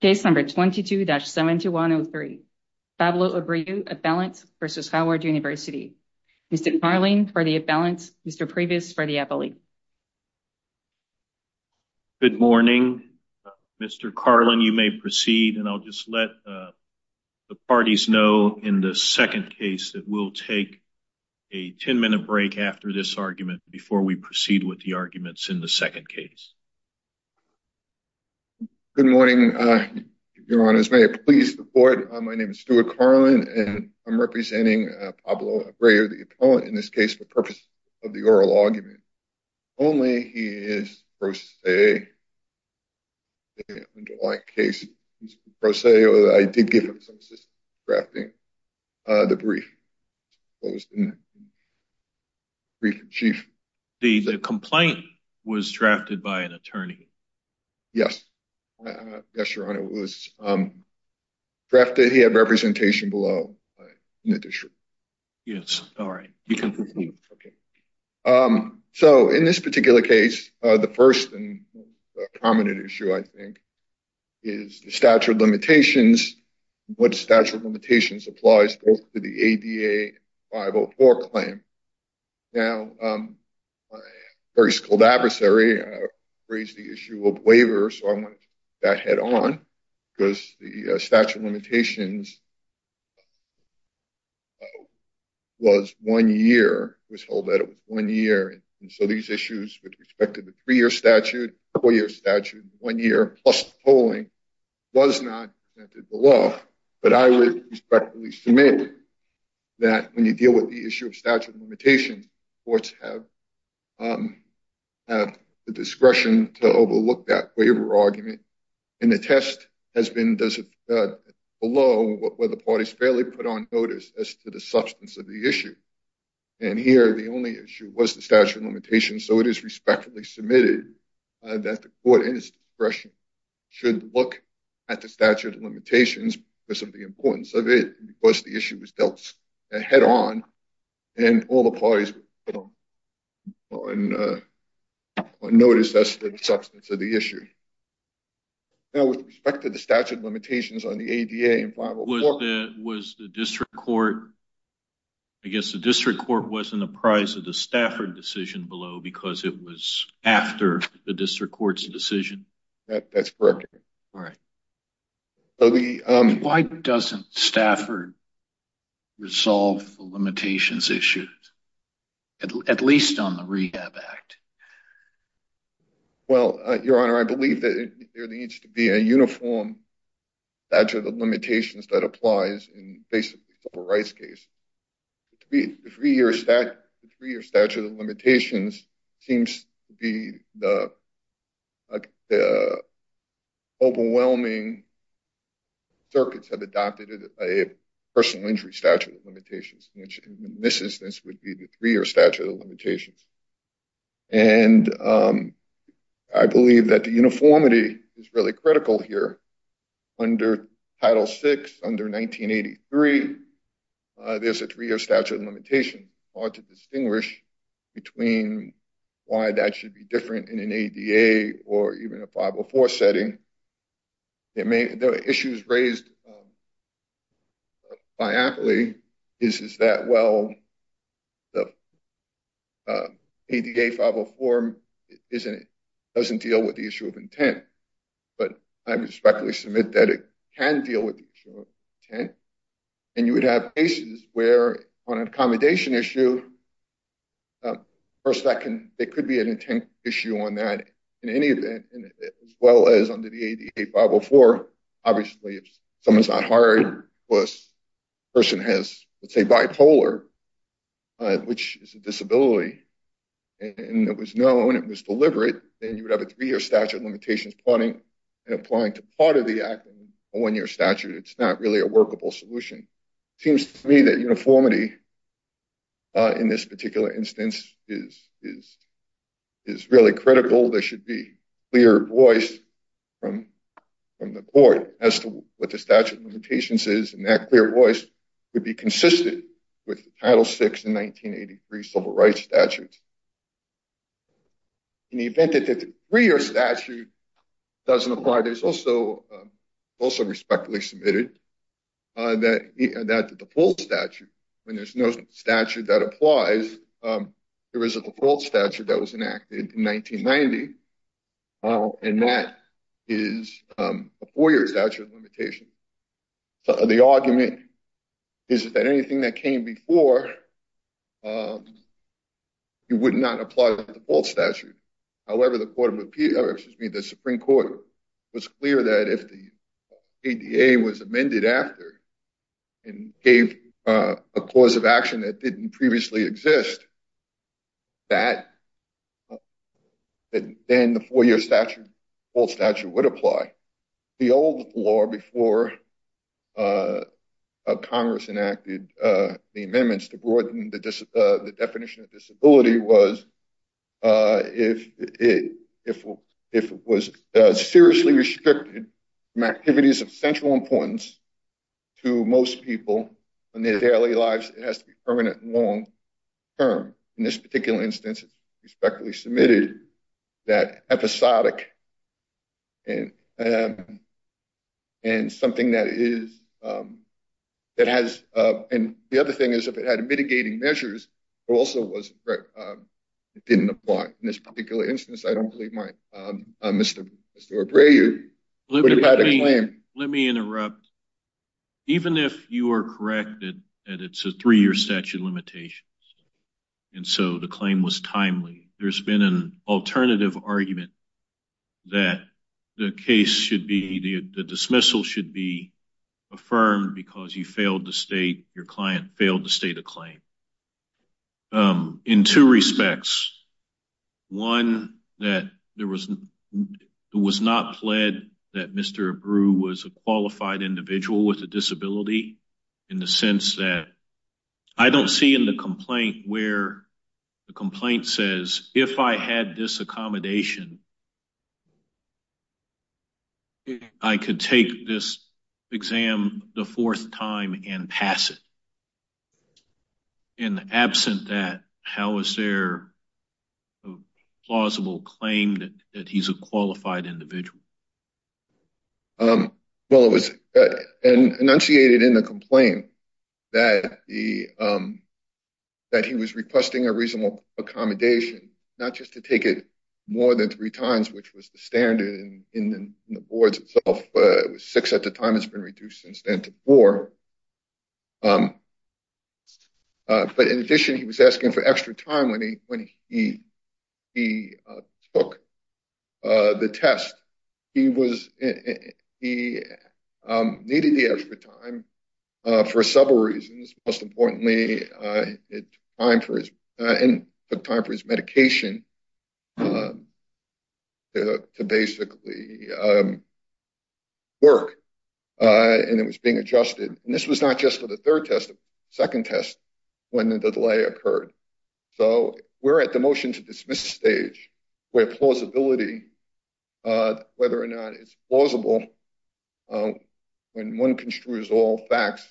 Case number 22-7103, Pablo Abreu, a balance versus Howard University. Mr. Carlin for the imbalance, Mr. Previs for the appellee. Good morning Mr. Carlin you may proceed and I'll just let the parties know in the second case that we'll take a 10-minute break after this argument before we proceed with the hearing. Your honors may I please report my name is Stuart Carlin and I'm representing Pablo Abreu, the opponent in this case for purpose of the oral argument only he is pro se. I did give him some assistance in drafting the brief, brief in chief. The complaint was drafted by an attorney? Yes, yes your honor, it was drafted he had representation below in the district. Yes, all right. So in this particular case the first and prominent issue I think is the statute of limitations, what statute of very skilled adversary raised the issue of waiver so I want that head-on because the statute of limitations was one year was held that it was one year and so these issues with respect to the three-year statute, four-year statute, one year plus polling was not the law but I would respectfully submit that when you have the discretion to overlook that waiver argument and the test has been does it below what were the parties fairly put on notice as to the substance of the issue and here the only issue was the statute of limitations so it is respectfully submitted that the court in its discretion should look at the statute of limitations because of the importance of it because the issue was dealt head-on and all the parties on notice that's the substance of the issue. Now with respect to the statute of limitations on the ADA and 504. Was the district court I guess the district court was in the prize of the Stafford decision below because it was after the district courts decision? That's correct. All right. Why doesn't Stafford resolve the limitations issues at least on the Rehab Act? Well your honor I believe that there needs to be a uniform statute of limitations that applies in basically a civil rights case. The three-year statute of circuits have adopted a personal injury statute of limitations which in this instance would be the three-year statute of limitations and I believe that the uniformity is really critical here under title 6 under 1983 there's a three-year statute of limitations hard to distinguish between why that should be the issues raised by aptly is is that well the ADA 504 isn't it doesn't deal with the issue of intent but I respectfully submit that it can deal with intent and you would have cases where on an accommodation issue first that can it could be an intent issue on that in any event as well as under the ADA 504 obviously if someone's not hired was person has let's say bipolar which is a disability and it was known it was deliberate and you would have a three-year statute of limitations plotting and applying to part of the acting a one-year statute it's not really a workable solution seems to me that uniformity in this particular instance is is is really critical there should be clear voice from from the court as to what the statute limitations is and that clear voice would be consistent with title 6 in 1983 civil rights statutes in the event that the three-year statute doesn't apply there's also also respectfully submitted that that the default statute when there's no statute that applies there is a default statute that was enacted in 1990 and that is a four-year statute limitation the argument is that anything that came before you would not apply the default statute however the court of appeal excuse me the Supreme Court was clear that if the ADA was amended after and a cause of action that didn't previously exist that then the four-year statute all statute would apply the old law before Congress enacted the amendments to broaden the definition of disability was if it if it was seriously restricted from activities of central importance to most people and their daily lives it has to be permanent long term in this particular instance respectfully submitted that episodic and and something that is that has and the other thing is if it had mitigating measures also was it didn't apply in this particular instance I don't believe my mr. Bray you let me interrupt even if you are corrected and it's a three-year statute limitations and so the claim was timely there's been an alternative argument that the case should be the dismissal should be affirmed because you failed to state your client failed to state a claim in two respects one that there was it was not pled that mr. brew was a qualified individual with a disability in the sense that I don't see in the complaint where the complaint says if I had this in absent that how is there a plausible claim that he's a qualified individual well it was enunciated in the complaint that the that he was requesting a reasonable accommodation not just to take it more than three times which was the standard in the boards itself it was six at the time it's been reduced since then to four but in addition he was asking for extra time when he when he he took the test he was he needed the extra time for several reasons most this was not just for the third test second test when the delay occurred so we're at the motion to dismiss stage where plausibility whether or not it's plausible when one construes all facts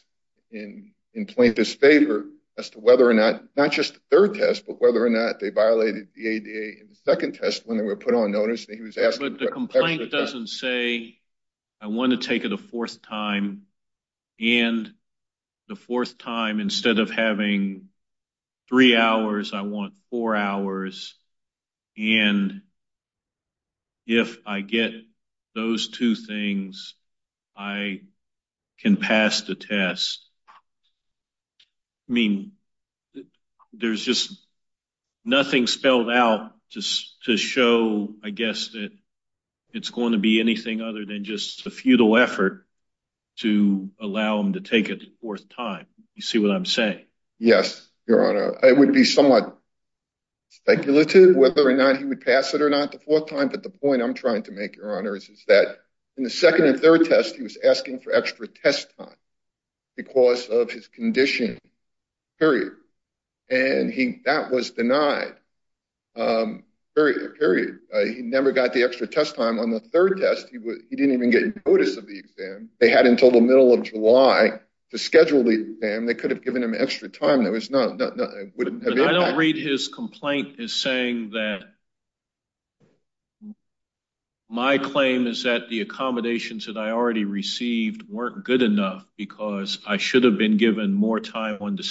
in in plaintiff's favor as to whether or not not just third test but whether or not they violated the ADA in the second test when they were put on notice he was asked but the complaint doesn't say I want to take it a fourth time and the fourth time instead of having three hours I want four hours and if I get those two things I can pass the test I mean there's just nothing spelled out just to show I guess that it's going to be anything other than just a futile effort to allow him to take it fourth time you see what I'm saying yes your honor I would be somewhat speculative whether or not he would pass it or not the fourth time but the point I'm trying to make your honors is that in the second and third test he was asking for extra test time because of his condition period and he that was denied very very he never got the extra test time on the third test he was he didn't even get notice of the exam they had until the middle of July to schedule the exam they could have given him extra time there was no I don't read his complaint is saying that my claim is that the accommodations that I already received weren't good enough because I should have been given more time on the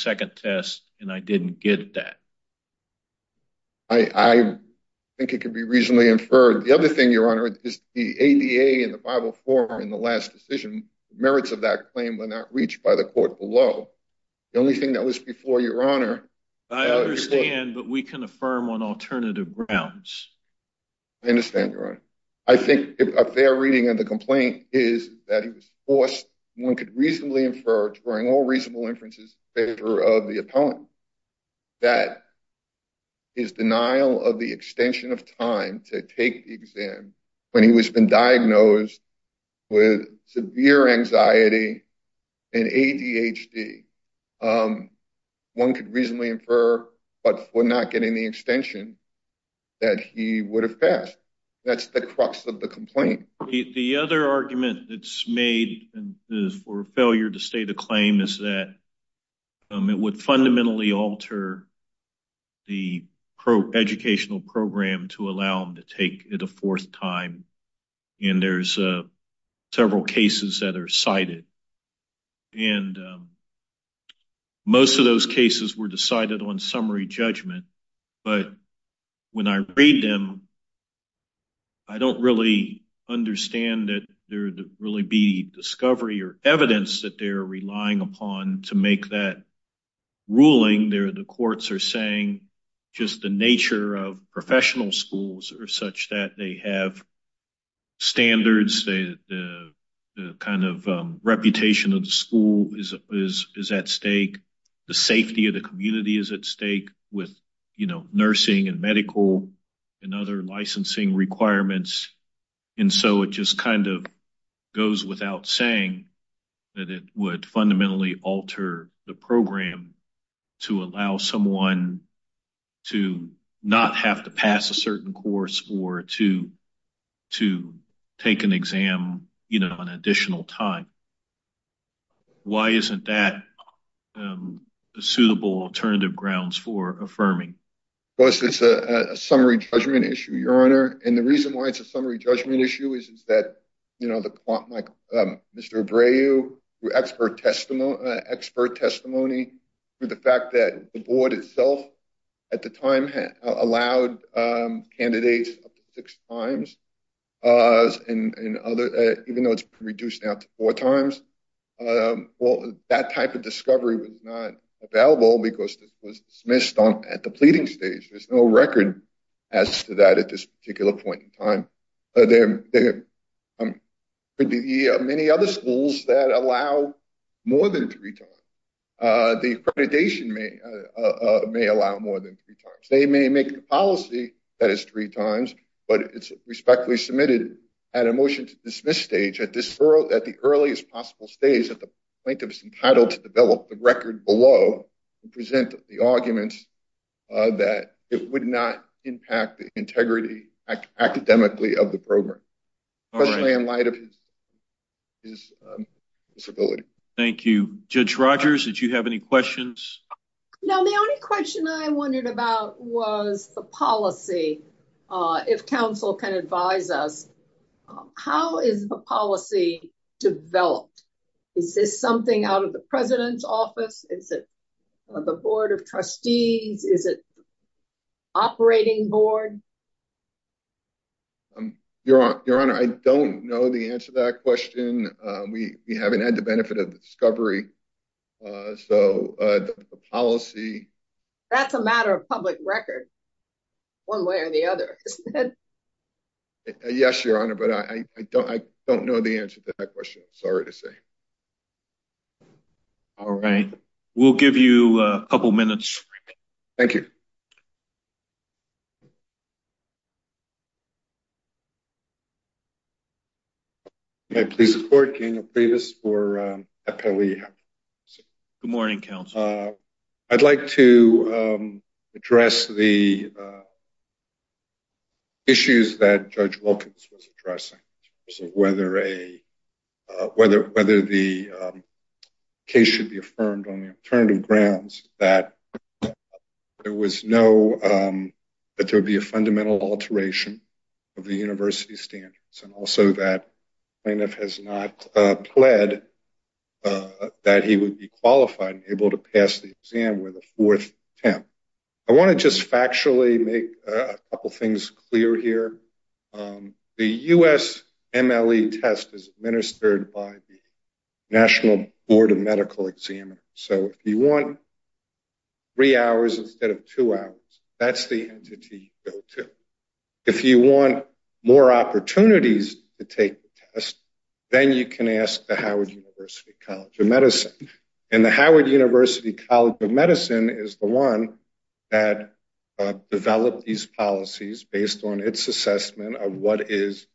I think it could be reasonably inferred the other thing your honor is the ADA and the Bible for in the last decision merits of that claim were not reached by the court below the only thing that was before your honor I understand but we can affirm on alternative grounds I understand your honor I think a fair reading and the complaint is that he was forced one could reasonably inferred all reasonable inferences favor of the opponent that his denial of the extension of time to take the exam when he was been diagnosed with severe anxiety and ADHD one could reasonably infer but we're not getting the extension that he would have passed that's the crux of the complaint the other argument that's made and is for failure to state a claim is that it would fundamentally alter the educational program to allow them to take it a fourth time and there's several cases that are cited and most of those cases were decided on summary judgment but when I read them I don't really understand that there really be discovery or evidence that they're relying upon to make that ruling there the courts are saying just the nature of professional schools or such that they have standards the kind of reputation of the school is at stake the safety of the community is at stake with you nursing and medical and other licensing requirements and so it just kind of goes without saying that it would fundamentally alter the program to allow someone to not have to pass a certain course or to to take an exam you know an additional time why isn't that a suitable alternative grounds for affirming well it's a summary judgment issue your honor and the reason why it's a summary judgment issue is that you know the plot like mr. Bray you expert testimony expert testimony for the fact that the board itself at the time had allowed candidates six times and other even though it's reduced out to four times well that type of discovery was not available because this was dismissed on at the pleading stage there's no record as to that at this particular point in time there are many other schools that allow more than three times the accreditation may may allow more than three times they may make a policy that is three times but it's respectfully submitted at a motion to dismiss stage at this world at the earliest possible stage that the plaintiff's entitled to develop the record below and present the arguments that it would not impact the integrity academically of the program is thank you judge Rogers did you have any questions no the only question I wondered about was the policy if counsel can advise us how is the policy developed is this something out of the president's office is it the Board of Trustees is it operating board you're on your honor I don't know the answer that question we haven't had the benefit of the discovery so the policy that's a matter of public record one way or the other yes your honor but I don't I don't know the answer to that question sorry to say all right we'll give you a couple minutes thank you may I please the court can you please for a pearly good morning counsel I'd like to address the issues that judge Wilkins was addressing whether a whether the case should be affirmed on the alternative grounds that there was no that there would be a fundamental alteration of the university standards and also that plaintiff has not pled that he would be qualified able to pass the exam with a fourth temp I want to just factually make a couple things clear here the US MLE test is administered by the National Board of Medical Examiner so if you want three hours instead of two hours that's the entity if you want more opportunities to take the test then you can ask the Howard University College of Medicine and the Howard University College of on its assessment of what is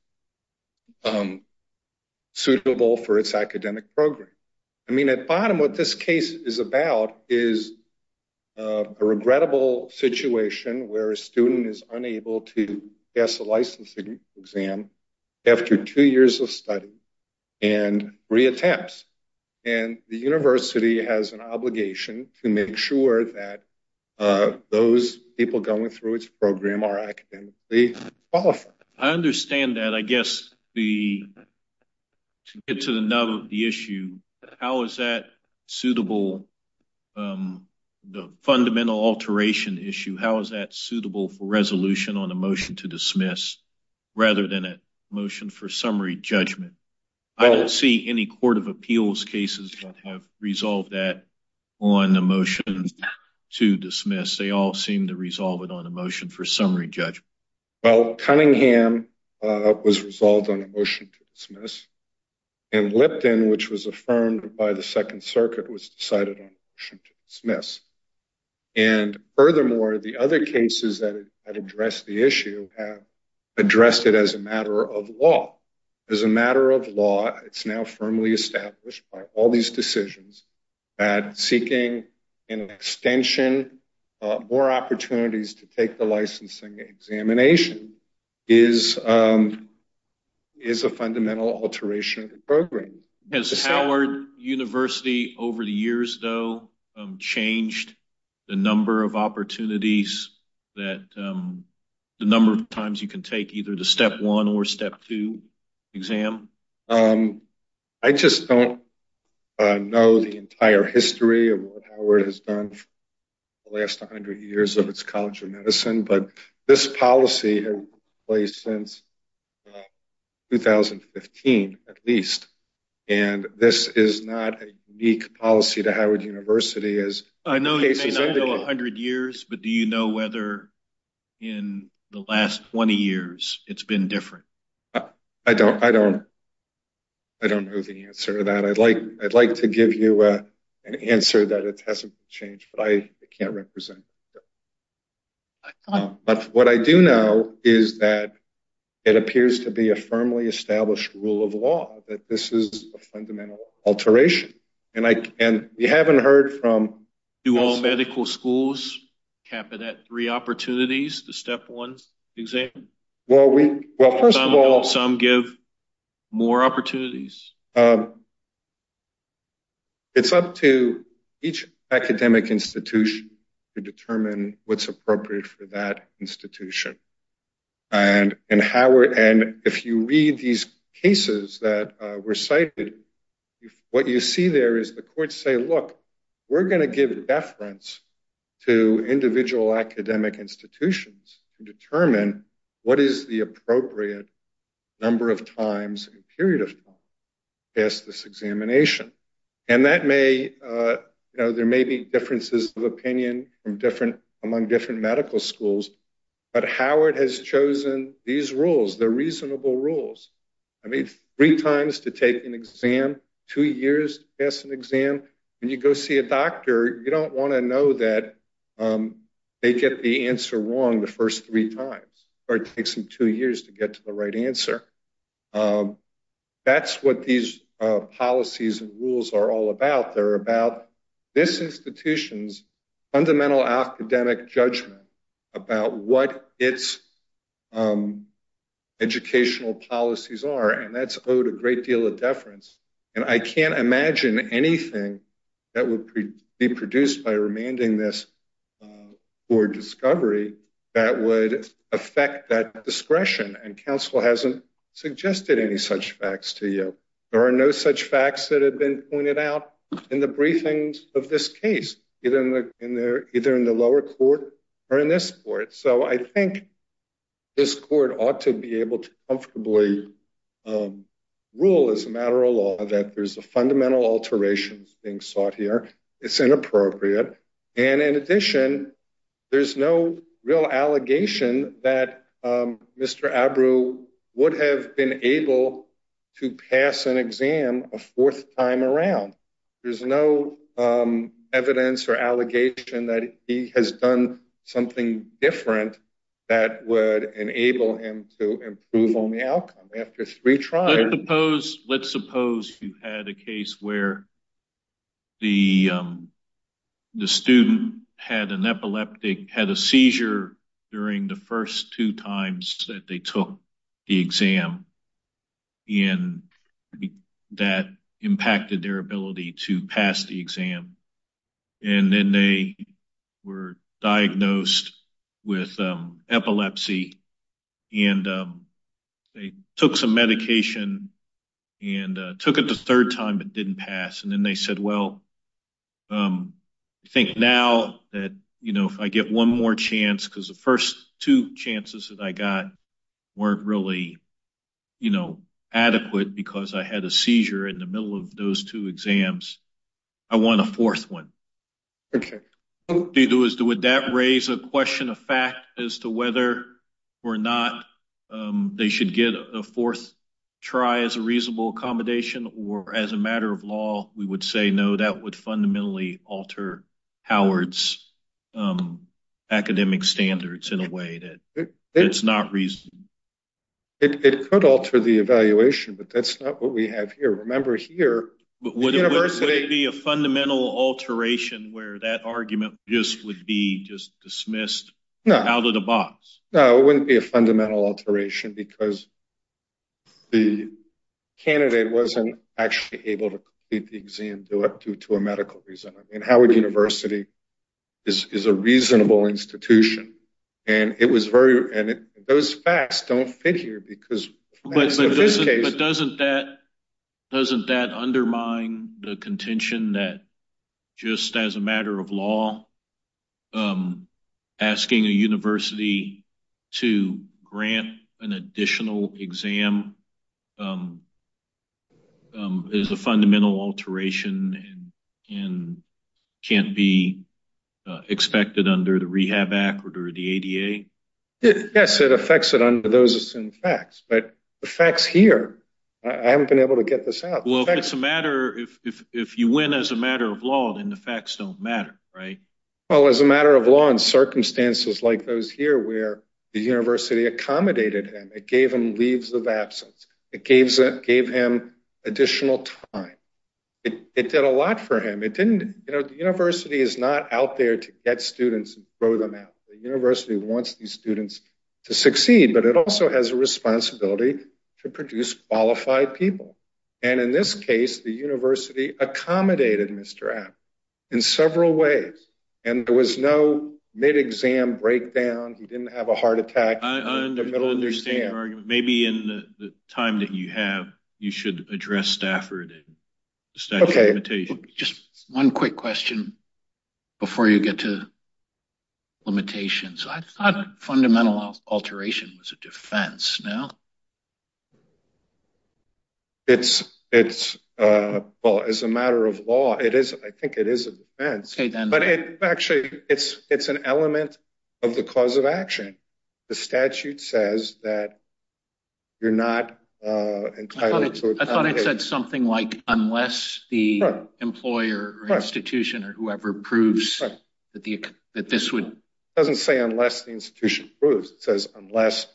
suitable for its academic program I mean at bottom what this case is about is a regrettable situation where a student is unable to pass a licensing exam after two years of study and three attempts and the university has an obligation to make sure that those people going through its program are academically I understand that I guess the to get to the nub of the issue how is that suitable the fundamental alteration issue how is that suitable for resolution on a motion to dismiss rather than a motion for summary judgment I don't see any Court of Appeals cases that have resolved that on the motion to dismiss they all seem to resolve it on a motion for summary judgment well Cunningham was resolved on a motion to dismiss and Lipton which was affirmed by the Second Circuit was decided on dismiss and furthermore the other cases that address the issue have addressed it as a matter of law as a matter of law it's now firmly established by all these decisions at seeking an extension or opportunities to take the licensing examination is is a fundamental alteration program as Howard University over the years though changed the number of opportunities that the number of take either the step 1 or step 2 exam I just don't know the entire history of what Howard has done last hundred years of its College of Medicine but this policy place since 2015 at least and this is not a unique policy to Howard University as I know a hundred years but do you know whether in the last 20 years it's been different I don't I don't I don't know the answer to that I'd like I'd like to give you an answer that it hasn't changed but I can't represent but what I do know is that it appears to be a firmly established rule of law that this is a fundamental alteration and I and you haven't heard from do all medical schools cap it at three opportunities the step ones exam well we well first of all some give more opportunities it's up to each academic institution to determine what's appropriate for that institution and in Howard and if you read these cases that were cited what you see there is the we're going to give deference to individual academic institutions to determine what is the appropriate number of times a period of time yes this examination and that may you know there may be differences of opinion from different among different medical schools but Howard has chosen these rules they're reasonable rules I mean three times to take an exam two years to pass an exam when you go see a doctor you don't want to know that they get the answer wrong the first three times or it takes them two years to get to the right answer that's what these policies and rules are all about they're about this institution's fundamental academic judgment about what its educational policies are and that's owed a great deal of deference and I can't imagine anything that would be produced by remanding this or discovery that would affect that discretion and counsel hasn't suggested any such facts to you there are no such facts that have been pointed out in the briefings of this case even in there either in the lower court or in this court so I think this court ought to be able to comfortably rule as a matter of law that there's a mental alterations being sought here it's inappropriate and in addition there's no real allegation that mr. Abru would have been able to pass an exam a fourth time around there's no evidence or allegation that he has done something different that would enable him to improve on the outcome after three suppose let's suppose you had a case where the the student had an epileptic had a seizure during the first two times that they took the exam in that impacted their ability to pass the exam and then they were diagnosed with epilepsy and they took some medication and took it the third time it didn't pass and then they said well I think now that you know if I get one more chance because the first two chances that I got weren't really you know adequate because I had a seizure in the middle of those two exams I want a fourth one okay they do is to that raise a question of fact as to whether or not they should get a fourth try as a reasonable accommodation or as a matter of law we would say no that would fundamentally alter Howard's academic standards in a way that it's not reason it could alter the evaluation but that's not what we have here remember here but would it be a fundamental alteration where that dismissed out of the box no it wouldn't be a fundamental alteration because the candidate wasn't actually able to beat the exam do it due to a medical reason and Howard University is a reasonable institution and it was very and it goes fast don't fit here because but doesn't that doesn't that undermine the law asking a university to grant an additional exam is a fundamental alteration and can't be expected under the Rehab Act or the ADA yes it affects it under those in facts but the facts here I haven't been able to get this out well it's a matter if if you win as a matter of law then the facts don't matter right well as a matter of law and circumstances like those here where the university accommodated him it gave him leaves of absence it gave that gave him additional time it did a lot for him it didn't you know the university is not out there to get students and throw them out the university wants these students to succeed but it also has a responsibility to produce qualified people and in this case the university accommodated mr. M in several ways and there was no mid exam breakdown he didn't have a heart attack understand maybe in the time that you have you should address Stafford okay just one quick question before you get to limitations fundamental alteration was a it's it's well as a matter of law it is I think it is a defense but it actually it's it's an element of the cause of action the statute says that you're not I thought it said something like unless the employer or institution or whoever proves that the that this would doesn't say unless the institution proves it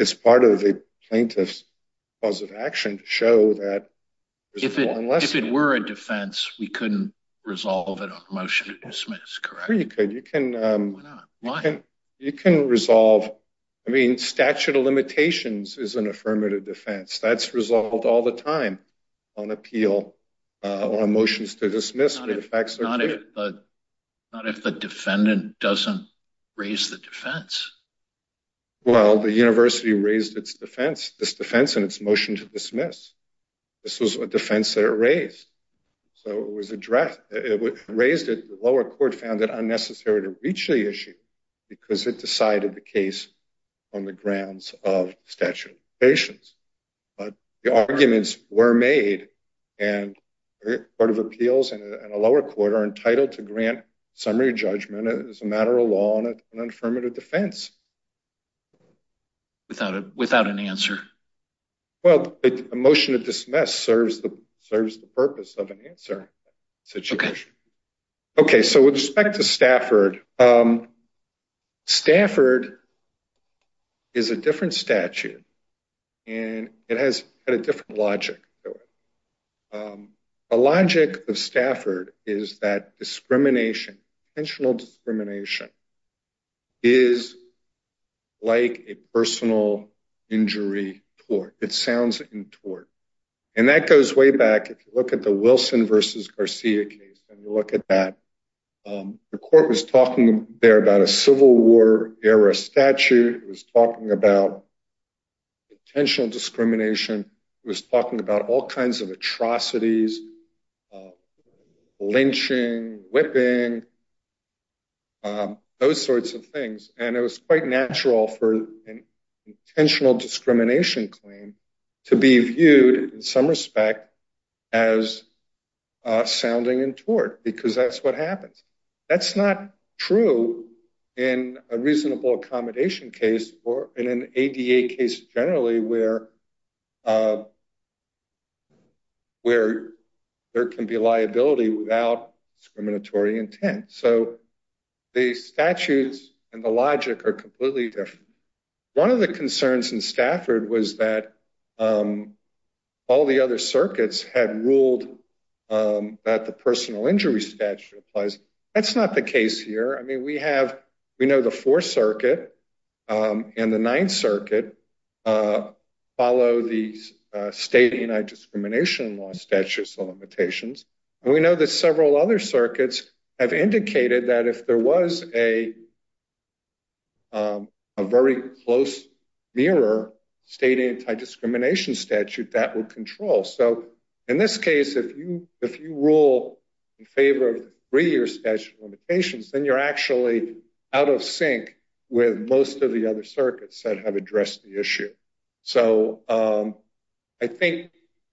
it's part of the plaintiff's cause of action to show that if it were a defense we couldn't resolve it on a motion to dismiss correct you could you can you can resolve I mean statute of limitations is an affirmative defense that's resolved all the time on appeal or motions to dismiss the facts not if not if the defendant doesn't raise the defense well the university raised its defense this defense and its motion to dismiss this was a defense that it raised so it was addressed it raised it the lower court found that unnecessary to reach the issue because it decided the case on the grounds of statute patients but the arguments were made and part of appeals and a lower court are to grant summary judgment as a matter of law and an affirmative defense without it without an answer well a motion to dismiss serves the service the purpose of an answer situation okay so with respect to Stafford Stafford is a different statute and it has a different logic a logic of Stafford is that discrimination intentional discrimination is like a personal injury or it sounds in tort and that goes way back if you look at the Wilson versus Garcia case and you look at that the court was talking there about a Civil War era statute was talking about intentional discrimination was talking about all kinds of atrocities lynching whipping those sorts of things and it was quite natural for an intentional discrimination claim to be viewed in some respect as sounding in tort because that's what happens that's not true in a where there can be liability without discriminatory intent so the statutes and the logic are completely different one of the concerns in Stafford was that all the other circuits had ruled that the personal injury statute applies that's not the case here I mean we have we know the 4th Circuit and the 9th follow these state anti-discrimination law statutes or limitations and we know that several other circuits have indicated that if there was a a very close mirror state anti-discrimination statute that will control so in this case if you if you rule in favor of three-year statute limitations then you're actually out of sync with most of the other circuits that have addressed the issue so I think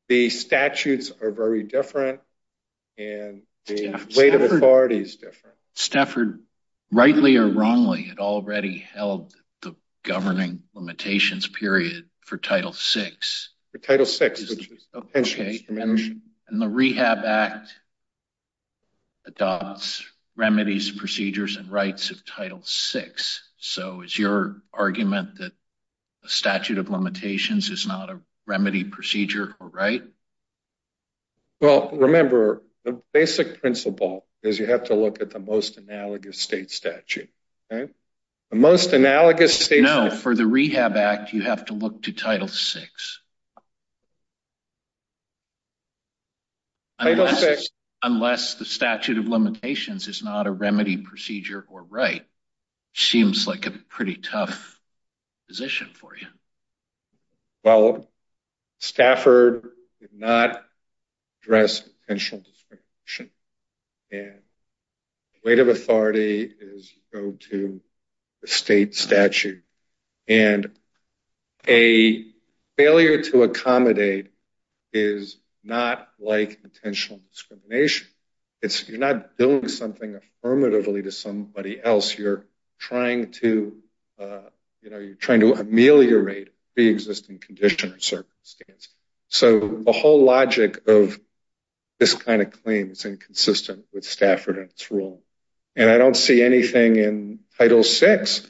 the statutes are very different and the weight of authority is different Stafford rightly or wrongly had already held the governing limitations period for title 6 for title 6 and the Rehab Act adopts remedies procedures and rights of title 6 so it's your argument that a statute of limitations is not a remedy procedure or right well remember the basic principle is you have to look at the most analogous state statute okay the most analogous no for the Rehab Act you have to look to title 6 unless the statute of limitations is not a remedy procedure or right seems like a pretty tough position for you well Stafford did not address potential discrimination and weight of authority is go to the state statute and a failure to accommodate is not like potential discrimination it's you're not doing something affirmatively to somebody else you're trying to you know you're trying to ameliorate the existing condition or circumstance so the whole logic of this kind of claim it's inconsistent with Stafford and it's wrong and I don't see anything in title 6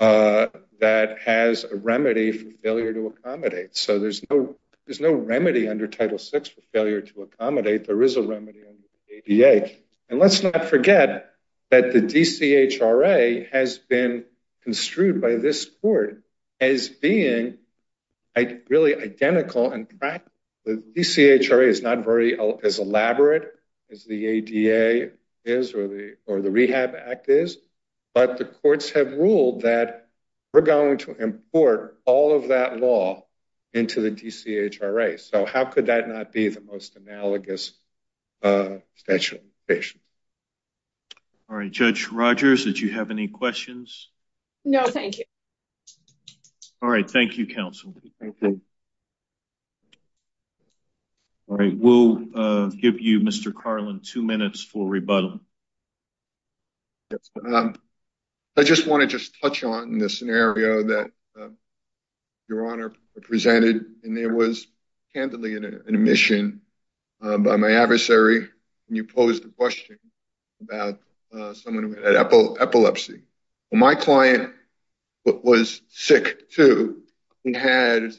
that has a remedy for failure to accommodate so there's no there's no remedy under title 6 for failure to accommodate there is a remedy under the ADA and let's not forget that the DCHRA has been construed by this court as being really identical and practical the DCHRA is not very as but the courts have ruled that we're going to import all of that law into the DCHRA so how could that not be the most analogous special patient all right judge Rogers did you have any questions no thank you all right thank you counsel all right we'll give you mr. Carlin two minutes for rebuttal I just want to just touch on in this scenario that your honor presented and there was candidly an admission by my adversary and you pose the question about someone was sick too he had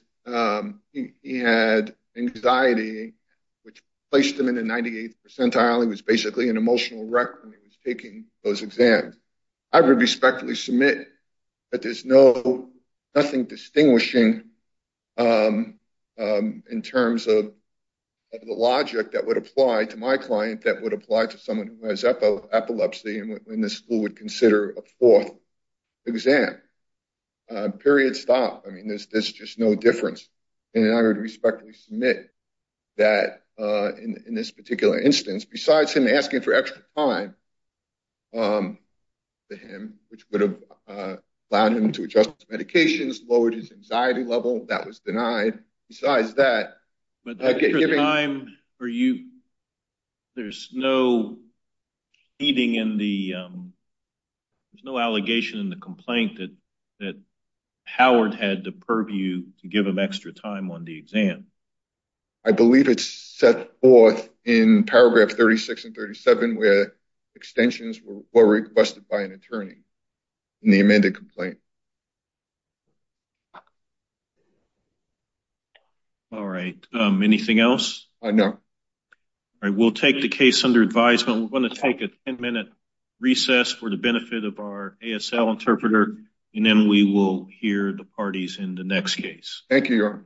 he had anxiety which placed him in the 98th percentile he was basically an emotional wreck when he was taking those exams I would respectfully submit but there's no nothing distinguishing in terms of the logic that would apply to my client that would apply to someone who has epilepsy and when the school would consider a fourth exam period stop I mean there's this just no difference and I would respectfully submit that in this particular instance besides him asking for extra time which would have allowed him to adjust medications lowered his anxiety level that was denied besides that are you there's no eating in the there's no allegation in the complaint that that Howard had to purview to give him extra time on the exam I believe it's set forth in paragraph 36 and 37 where extensions were requested by an all right anything else I know I will take the case under advisement we're going to take a 10-minute recess for the benefit of our ASL interpreter and then we will hear the parties in the next case thank you